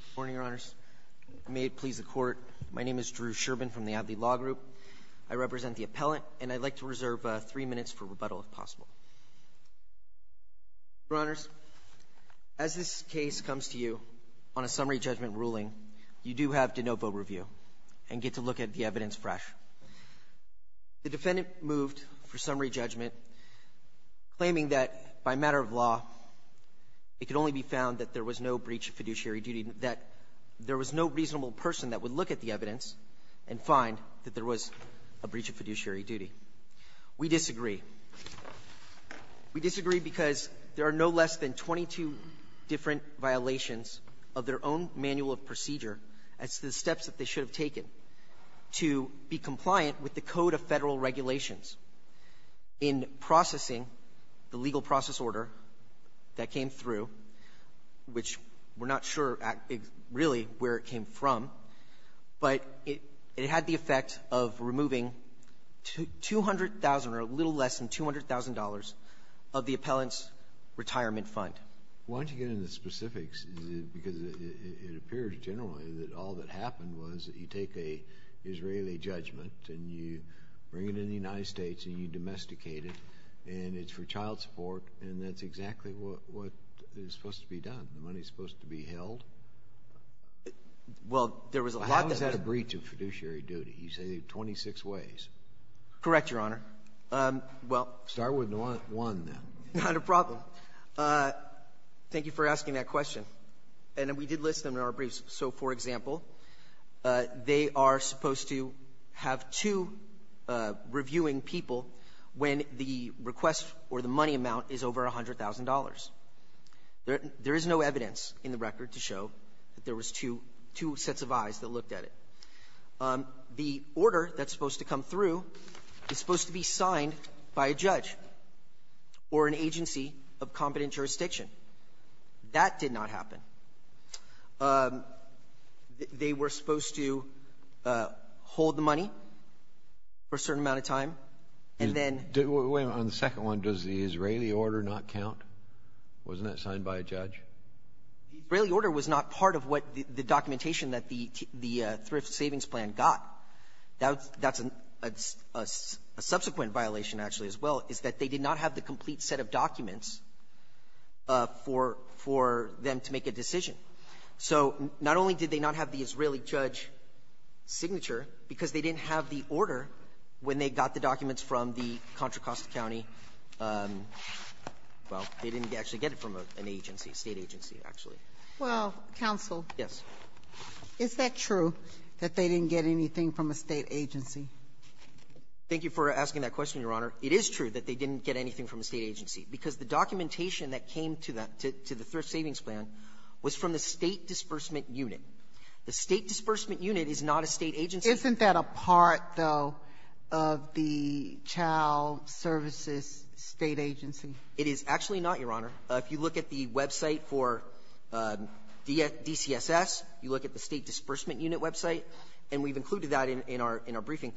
Good morning, Your Honors. May it please the Court, my name is Drew Sherbin from the Adly Law Group. I represent the appellant and I'd like to reserve three minutes for rebuttal if possible. Your Honors, as this case comes to you on a summary judgment ruling, you do have de novo review and get to look at the evidence fresh. The defendant moved for summary judgment claiming that by matter of law it could only be found that there was no breach of fiduciary duty, that there was no reasonable person that would look at the evidence and find that there was a breach of fiduciary duty. We disagree. We disagree because there are no less than 22 different violations of their own manual of procedure as to the steps that they should have taken to be compliant with the Code of Federal Regulations in processing the legal process order that came through, which we're not sure really where it came from, but it had the effect of removing $200,000 or a little less than $200,000 of the appellant's retirement fund. Why don't you get into the specifics, because it appears generally that all that money is supposed to be held. Well, there was a lot that was held. How is that a breach of fiduciary duty? You say 26 ways. Correct, Your Honor. Start with one, then. Not a problem. Thank you for asking that question. And we did list them in our briefs. So, for example, they are supposed to have two eyes reviewing people when the request or the money amount is over $100,000. There is no evidence in the record to show that there was two sets of eyes that looked at it. The order that's supposed to come through is supposed to be signed by a judge or an agency of competent jurisdiction. That did not happen. They were supposed to hold the money for a certain amount of time, and then — Wait a minute. On the second one, does the Israeli order not count? Wasn't that signed by a judge? The Israeli order was not part of what the documentation that the thrift savings plan got. That's a subsequent violation, actually, as well, is that they did not have the decision. So not only did they not have the Israeli judge signature, because they didn't have the order when they got the documents from the Contra Costa County — well, they didn't actually get it from an agency, a State agency, actually. Well, counsel. Yes. Is that true, that they didn't get anything from a State agency? Thank you for asking that question, Your Honor. It is true that they didn't get anything from a State agency, because the documentation that came to the — to the thrift savings plan was from the State disbursement unit. The State disbursement unit is not a State agency. Isn't that a part, though, of the child services State agency? It is actually not, Your Honor. If you look at the website for DCSS, you look at the State disbursement unit website, and we've included that in our briefing.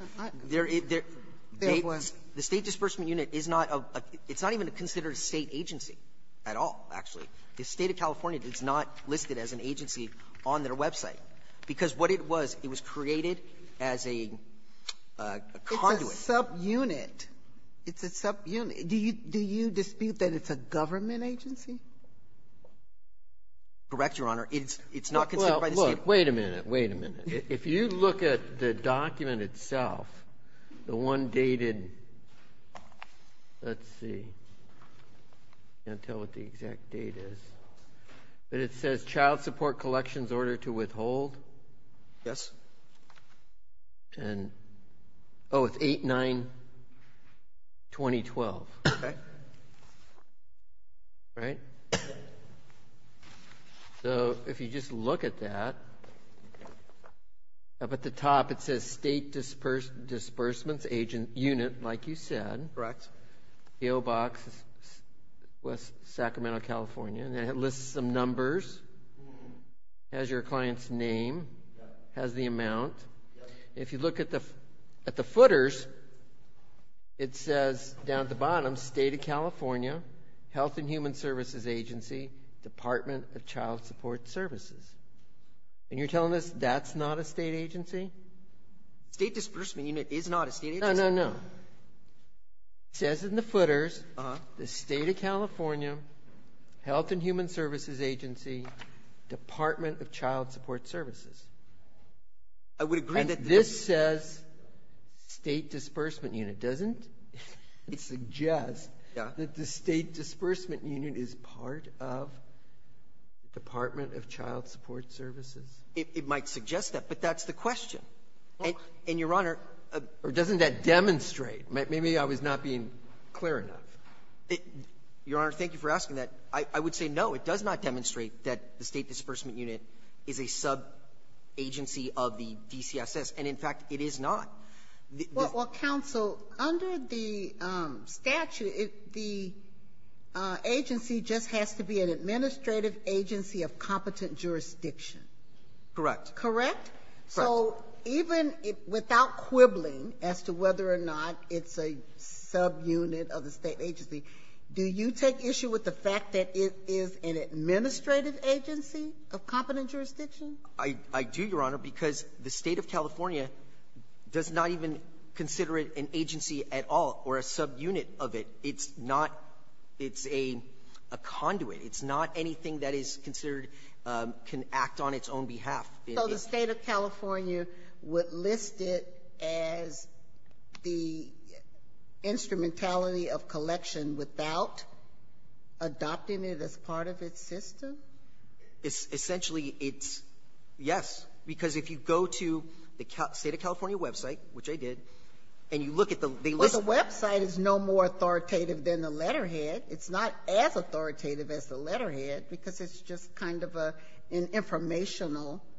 There was. The State disbursement unit is not a — it's not even considered a State agency at all, actually. The State of California is not listed as an agency on their website, because what it was, it was created as a conduit. It's a subunit. It's a subunit. Do you dispute that it's a government agency? Correct, Your Honor. It's not considered by the State. Well, look. Wait a minute. Wait a minute. If you look at the document itself, the one dated — let's see. I can't tell what the exact date is, but it says Child Support Collections Order to Withhold. Yes. And — oh, it's 8-9-2012. Okay. Right? So, if you just look at that, up at the top it says State Disbursements Unit, like you said. Correct. The O box is West Sacramento, California, and it lists some numbers, has your client's name, has the amount. If you look at the footers, it says down at the bottom, State of California, Health and Human Services Agency, Department of Child Support Services. And you're telling us that's not a state agency? State Disbursement Unit is not a state agency. No, no, no. It says in the footers, the State of California, Health and Human Services Agency, Department of Child Support Services. I would agree that — And this says State Disbursement Unit, doesn't it? It suggests that the State Disbursement Unit is part of Department of Child Support Services. It might suggest that, but that's the question. And, Your Honor — Or doesn't that demonstrate? Maybe I was not being clear enough. Your Honor, thank you for asking that. I would say, no, it does not demonstrate that the State Disbursement Unit is a subagency of the DCSS, and, in fact, it is not. The — Well, counsel, under the statute, the agency just has to be an administrative agency of competent jurisdiction. Correct. Correct? Correct. So even without quibbling as to whether or not it's a subunit of the state agency, do you take issue with the fact that it is an administrative agency of competent jurisdiction? I do, Your Honor, because the State of California does not even consider it an agency at all or a subunit of it. It's not — it's a conduit. It's not anything that is considered can act on its own behalf. So the State of California would list it as the instrumentality of collection without adopting it as part of its system? Essentially, it's yes, because if you go to the State of California website, which I did, and you look at the — Well, the website is no more authoritative than the letterhead. It's not as authoritative as the letterhead because it's just kind of an informational —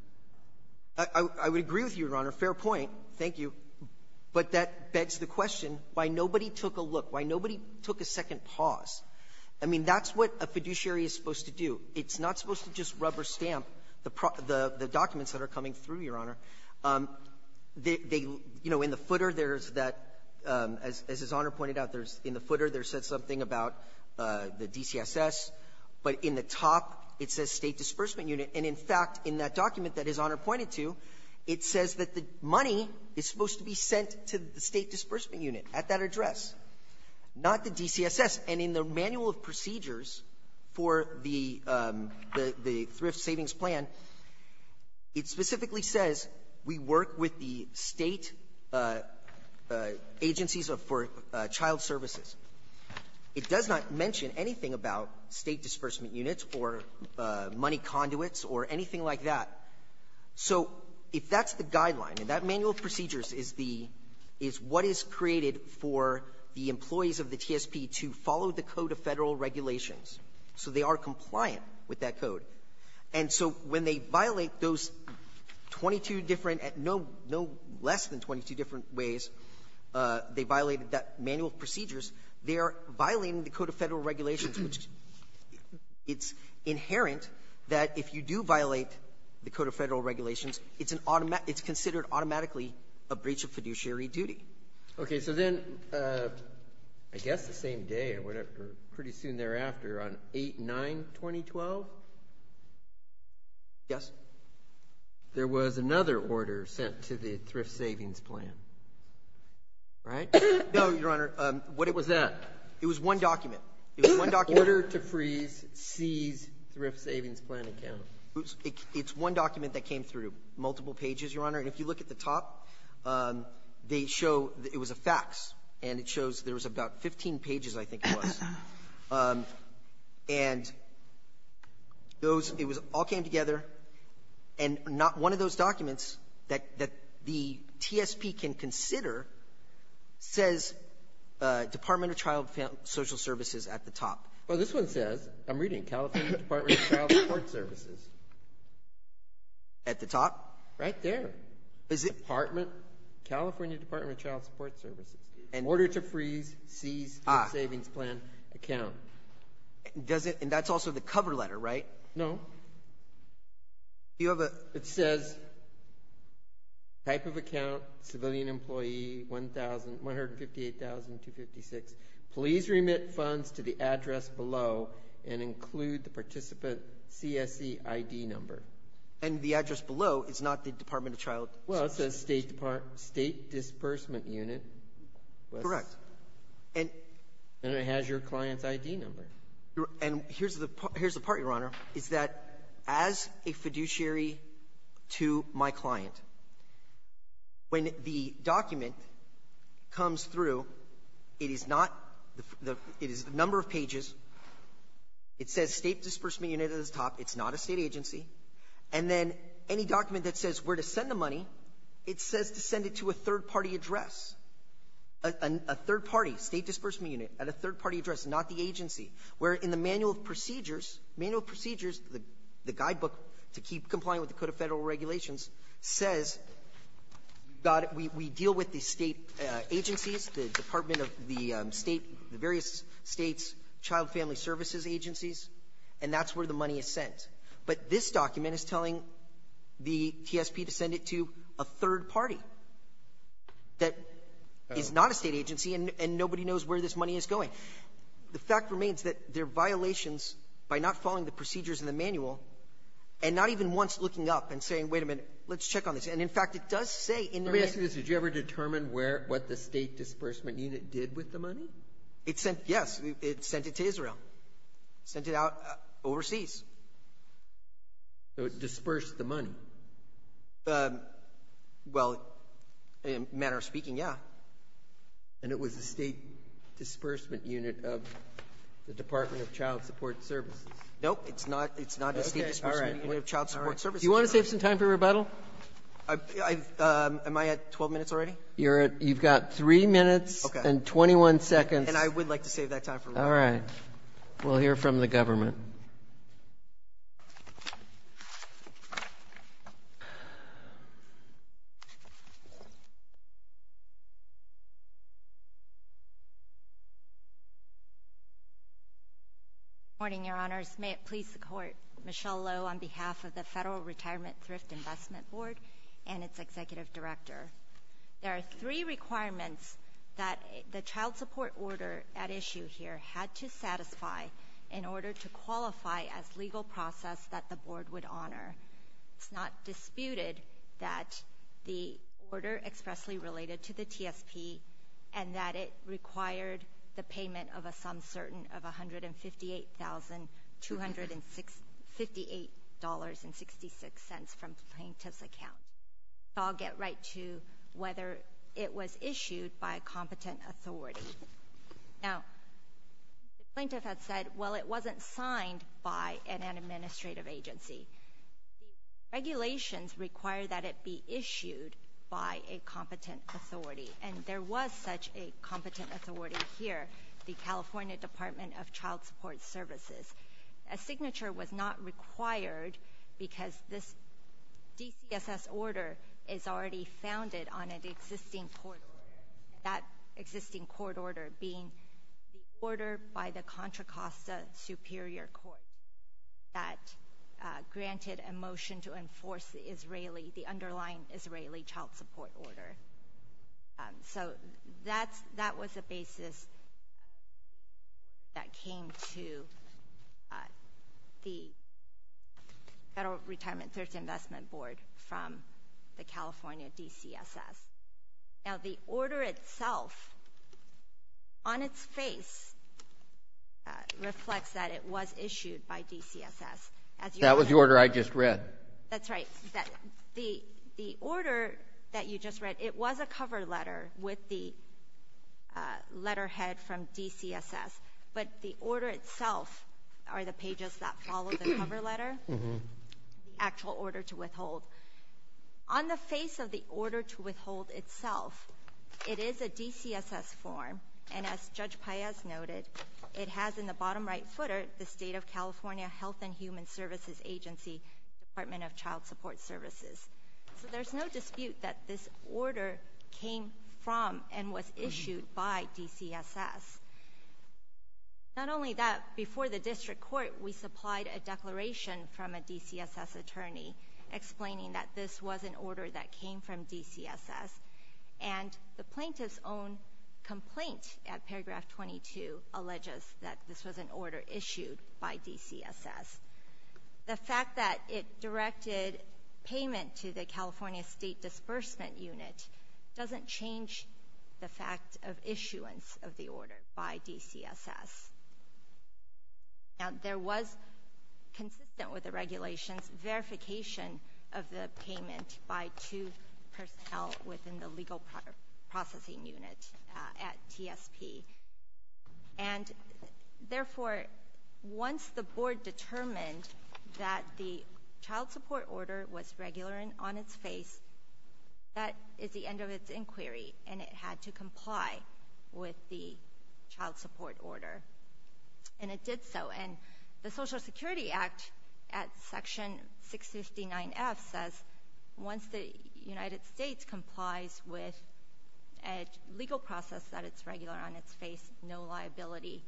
I would agree with you, Your Honor. Fair point. Thank you. But that begs the question, why nobody took a look, why nobody took a second pause? I mean, that's what a fiduciary is supposed to do. It's not supposed to just rubber stamp the documents that are coming through, Your Honor. They — you know, in the footer, there's that — as His Honor pointed out, there's — in the footer, there says something about the DCSS, but in the top, it says State Disbursement Unit. And in fact, in that document that His Honor pointed to, it says that the money is supposed to be sent to the State Disbursement Unit at that address, not the DCSS. And in the manual of procedures for the — the — the Thrift Savings Plan, it specifically says we work with the State agencies of — for child services. It does not mention anything about State Disbursement Units or money conduits or anything like that. So if that's the guideline, and that manual of procedures is the — is what is created for the employees of the TSP to follow the Code of Federal Regulations. So they are compliant with that code. And so when they violate those 22 different — no — no less than 22 different ways they violated that manual of procedures, they are violating the Code of Federal Regulations, which it's inherent that if you do violate the Code of Federal Regulations, it's an automatic — it's considered automatically a breach of fiduciary duty. Okay. So then, I guess the same day or whatever, pretty soon thereafter, on 8-9-2012? Yes. There was another order sent to the Thrift Savings Plan, right? No, Your Honor. What was that? It was one document. It was one document. Order to freeze C's Thrift Savings Plan account. It's one document that came through multiple pages, Your Honor. And if you look at the So it was a fax, and it shows there was about 15 pages, I think it was. And those — it was — all came together, and not one of those documents that — that the TSP can consider says Department of Child Social Services at the top. Well, this one says — I'm reading — California Department of Child Support Services. At the top? Right there. Is it — Department — California Department of Child Support Services. And — Order to freeze C's Thrift Savings Plan account. Does it — and that's also the cover letter, right? No. You have a — It says, type of account, civilian employee, 1,000 — 158,256. Please remit funds to the address below and include the participant CSE ID number. And the address below is not the Department of Child — Well, it says State Disbursement Unit. Correct. And it has your client's ID number. And here's the part, Your Honor, is that as a fiduciary to my client, when the document comes through, it is not — it is a number of pages. It says State Disbursement Unit at the top. It's not a State agency. And then any document that says where to send the money, it says to send it to a third-party address, a third-party State Disbursement Unit at a third-party address, not the agency, where in the Manual of Procedures, Manual of Procedures, the guidebook to keep compliant with the Code of Federal Regulations, says we deal with the State agencies, the Department of the State — the various States' child family services agencies. And that's where the money is sent. But this document is telling the TSP to send it to a third party that is not a State agency, and nobody knows where this money is going. The fact remains that there are violations by not following the procedures in the manual and not even once looking up and saying, wait a minute, let's check on this. And, in fact, it does say in the Manual — Let me ask you this. Did you ever determine where — what the State Disbursement Unit did with the money? It sent — yes. It sent it to Israel. Sent it out overseas. So it dispersed the money. Well, manner of speaking, yeah. And it was the State Disbursement Unit of the Department of Child Support Services. No, it's not. Okay. All right. It's not the State Disbursement Unit of Child Support Services. All right. Do you want to save some time for rebuttal? I've — am I at 12 minutes already? You're at — you've got three minutes and 21 seconds. And I would like to save that time for rebuttal. All right. We'll hear from the government. Good morning, Your Honors. May it please the Court, Michelle Loh on behalf of the Federal Retirement Thrift Investment Board and its Executive Director. There are three requirements that the child support order at issue here had to satisfy in order to qualify as legal process that the Board would honor. It's not disputed that the order expressly related to the TSP and that it required the payment of a sum certain of $158,258.66 from plaintiff's account. I'll get right to whether it was issued by a competent authority. Now, the plaintiff had said, well, it wasn't signed by an administrative agency. The regulations require that it be issued by a competent authority. And there was such a competent authority here, the California Department of Child Support Services. A signature was not required because this DCSS order is already founded on an existing court order, that existing court order being the order by the Contra Costa Superior Court that granted a motion to enforce the Israeli, the underlying Israeli child support order. So that was the basis that came to the Federal Retirement Thrift Investment Board from the California DCSS. Now, the order itself, on its face, reflects that it was issued by DCSS. That was the order I just read. That's right. The order that you just read, it was a cover letter with the letterhead from DCSS. But the order itself are the pages that follow the cover letter, the actual order to withhold. On the face of the order to withhold itself, it is a DCSS form. And as Judge Paez noted, it has in the bottom right footer the State of the Department of Child Support Services. So there's no dispute that this order came from and was issued by DCSS. Not only that, before the district court, we supplied a declaration from a DCSS attorney explaining that this was an order that came from DCSS. And the plaintiff's own complaint at paragraph 22 alleges that this was an order issued by DCSS. The fact that it directed payment to the California State Disbursement Unit doesn't change the fact of issuance of the order by DCSS. Now, there was consistent with the regulations verification of the payment by two personnel within the Legal Processing Unit at TSP. And therefore, once the board determined that the child support order was regular on its face, that is the end of its inquiry. And it had to comply with the child support order. And it did so. And the Social Security Act at Section 659F says once the United States complies with a legal process that it's regular on its face, no liability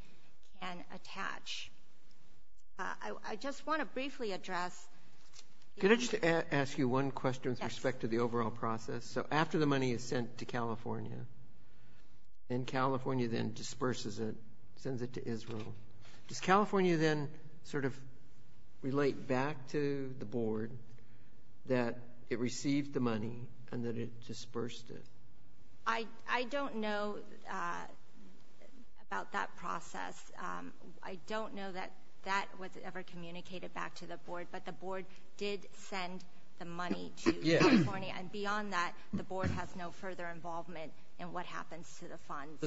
can attach. I just want to briefly address the need. Could I just ask you one question with respect to the overall process? Yes. So after the money is sent to California, and California then disperses it, sends it to Israel, does California then sort of relate back to the board that it received the money and that it dispersed it? I don't know about that process. I don't know that that was ever communicated back to the board. But the board did send the money to California. And beyond that, the board has no further involvement in what happens to the funds.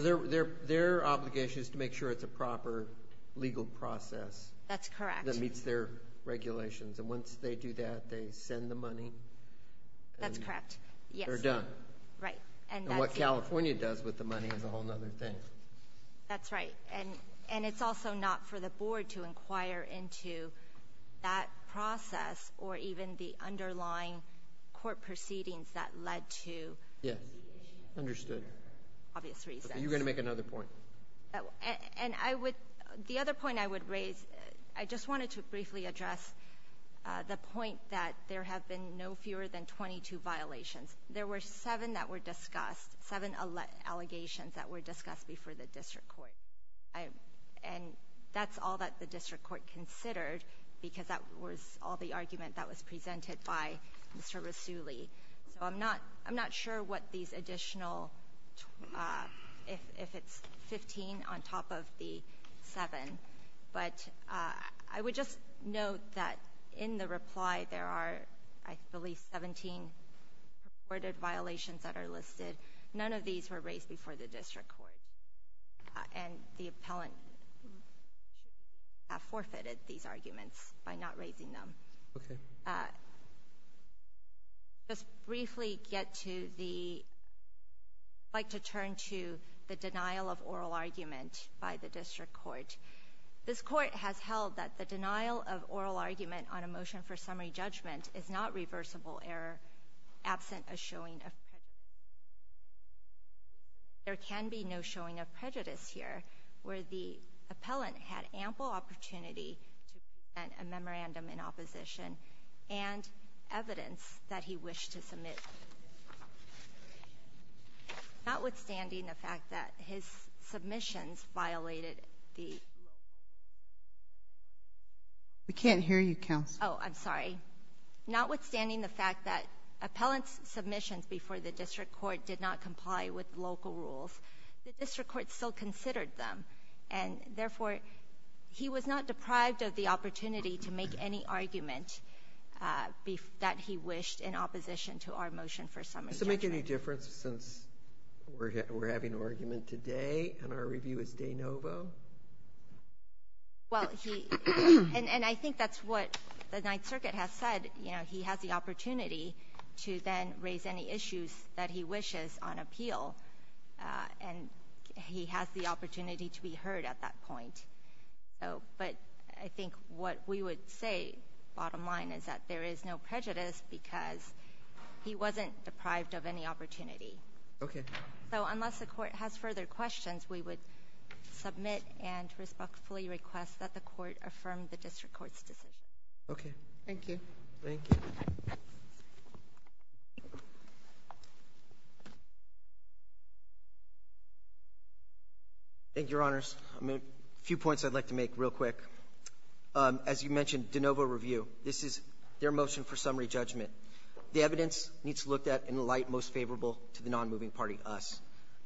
Their obligation is to make sure it's a proper legal process. That's correct. That meets their regulations. And once they do that, they send the money? That's correct, yes. They're done. Right. And what California does with the money is a whole other thing. That's right. And it's also not for the board to inquire into that process or even the underlying court proceedings that led to litigation. Understood. For obvious reasons. You're going to make another point. And I would — the other point I would raise, I just wanted to briefly address the point that there have been no fewer than 22 violations. There were seven that were discussed, seven allegations that were discussed before the district court. And that's all that the district court considered, because that was all the argument that was presented by Mr. Rasooli. So I'm not sure what these additional — if it's 15 on top of the seven. But I would just note that in the reply there are, I believe, 17 reported violations that are listed. None of these were raised before the district court. And the appellant should have forfeited these arguments by not raising them. Okay. Thank you. Just briefly get to the — I'd like to turn to the denial of oral argument by the district court. This court has held that the denial of oral argument on a motion for summary judgment is not reversible error absent a showing of prejudice. There can be no showing of prejudice here, where the appellant had ample opportunity to present a memorandum in opposition and evidence that he wished to submit. Notwithstanding the fact that his submissions violated the — We can't hear you, counsel. Oh, I'm sorry. Notwithstanding the fact that appellant's submissions before the district court did not comply with local rules, the district court still considered them. And, therefore, he was not deprived of the opportunity to make any argument that he wished in opposition to our motion for summary judgment. Does it make any difference since we're having an argument today and our review is de novo? Well, he — and I think that's what the Ninth Circuit has said. You know, he has the opportunity to then raise any issues that he wishes on appeal, and he has the opportunity to be heard at that point. But I think what we would say, bottom line, is that there is no prejudice because he wasn't deprived of any opportunity. Okay. So unless the court has further questions, we would submit and respectfully request that the court affirm the district court's decision. Okay. Thank you. Thank you. Thank you, Your Honors. A few points I'd like to make real quick. As you mentioned, de novo review. This is their motion for summary judgment. The evidence needs to look at in the light most favorable to the nonmoving party, us.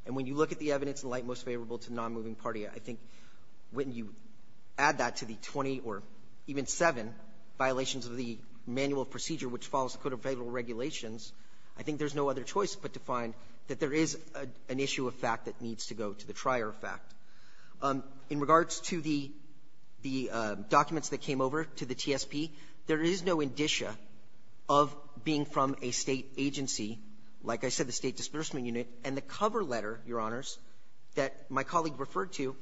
And when you look at the evidence in the light most favorable to the nonmoving party, I think when you add that to the 20 or even 7 violations of the manual procedure which follows the Code of Federal Regulations, I think there's no other choice but to find that there is an issue of fact that needs to go to the trier of fact. In regards to the documents that came over to the TSP, there is no indicia of being from a State agency, like I said, the State disbursement unit. And the cover letter, Your Honors, that my colleague referred to,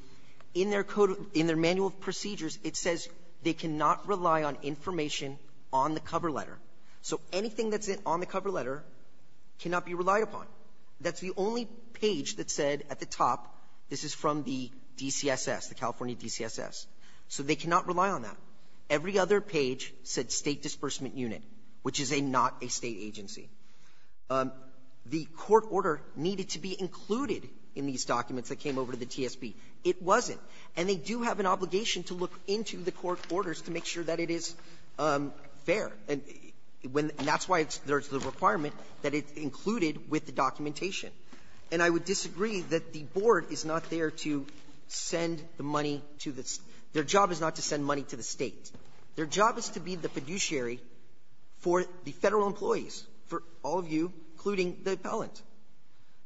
in their manual procedures, it says they cannot rely on information on the cover letter. So anything that's on the cover letter cannot be relied upon. That's the only page that said at the top this is from the DCSS, the California DCSS. So they cannot rely on that. Every other page said State disbursement unit, which is a not a State agency. The court order needed to be included in these documents that came over to the TSP. It wasn't. And they do have an obligation to look into the court orders to make sure that it is fair. And that's why there's the requirement that it's included with the documentation. And I would disagree that the board is not there to send the money to the State. Their job is to be the fiduciary for the Federal employees, for all of you, including the appellant.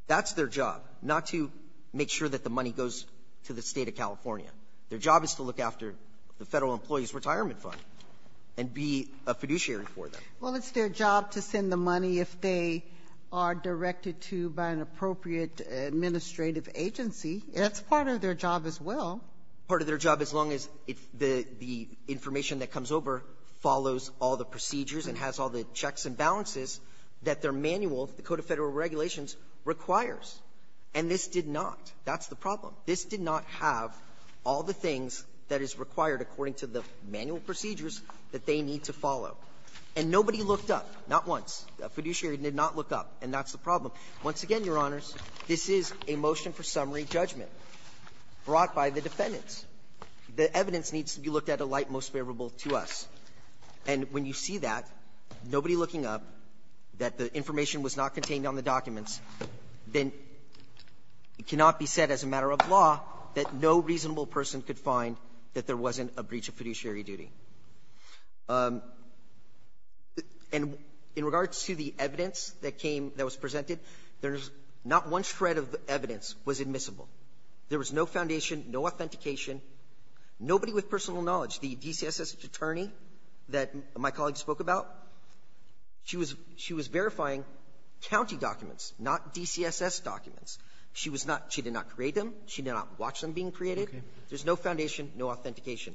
That's their job, not to make sure that the money goes to the State of California. Their job is to look after the Federal employees' retirement fund and be a fiduciary for them. Sotomayor Well, it's their job to send the money if they are directed to by an appropriate administrative agency. That's part of their job as well. Part of their job, as long as the information that comes over follows all the procedures and has all the checks and balances that their manual, the Code of Federal Regulations, requires. And this did not. That's the problem. This did not have all the things that is required according to the manual procedures that they need to follow. And nobody looked up. Not once. A fiduciary did not look up. And that's the problem. Once again, Your Honors, this is a motion for summary judgment brought by the defense defendants. The evidence needs to be looked at a light most favorable to us. And when you see that, nobody looking up, that the information was not contained on the documents, then it cannot be said as a matter of law that no reasonable person could find that there wasn't a breach of fiduciary duty. And in regards to the evidence that came, that was presented, there's not one shred of evidence was admissible. There was no foundation, no authentication, nobody with personal knowledge. The DCSS attorney that my colleague spoke about, she was verifying county documents, not DCSS documents. She was not – she did not create them. She did not watch them being created. There's no foundation, no authentication.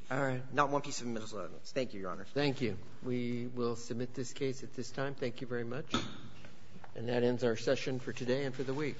Not one piece of evidence. Thank you, Your Honor. Thank you. We will submit this case at this time. Thank you very much. And that ends our session for today and for the week. Thank you.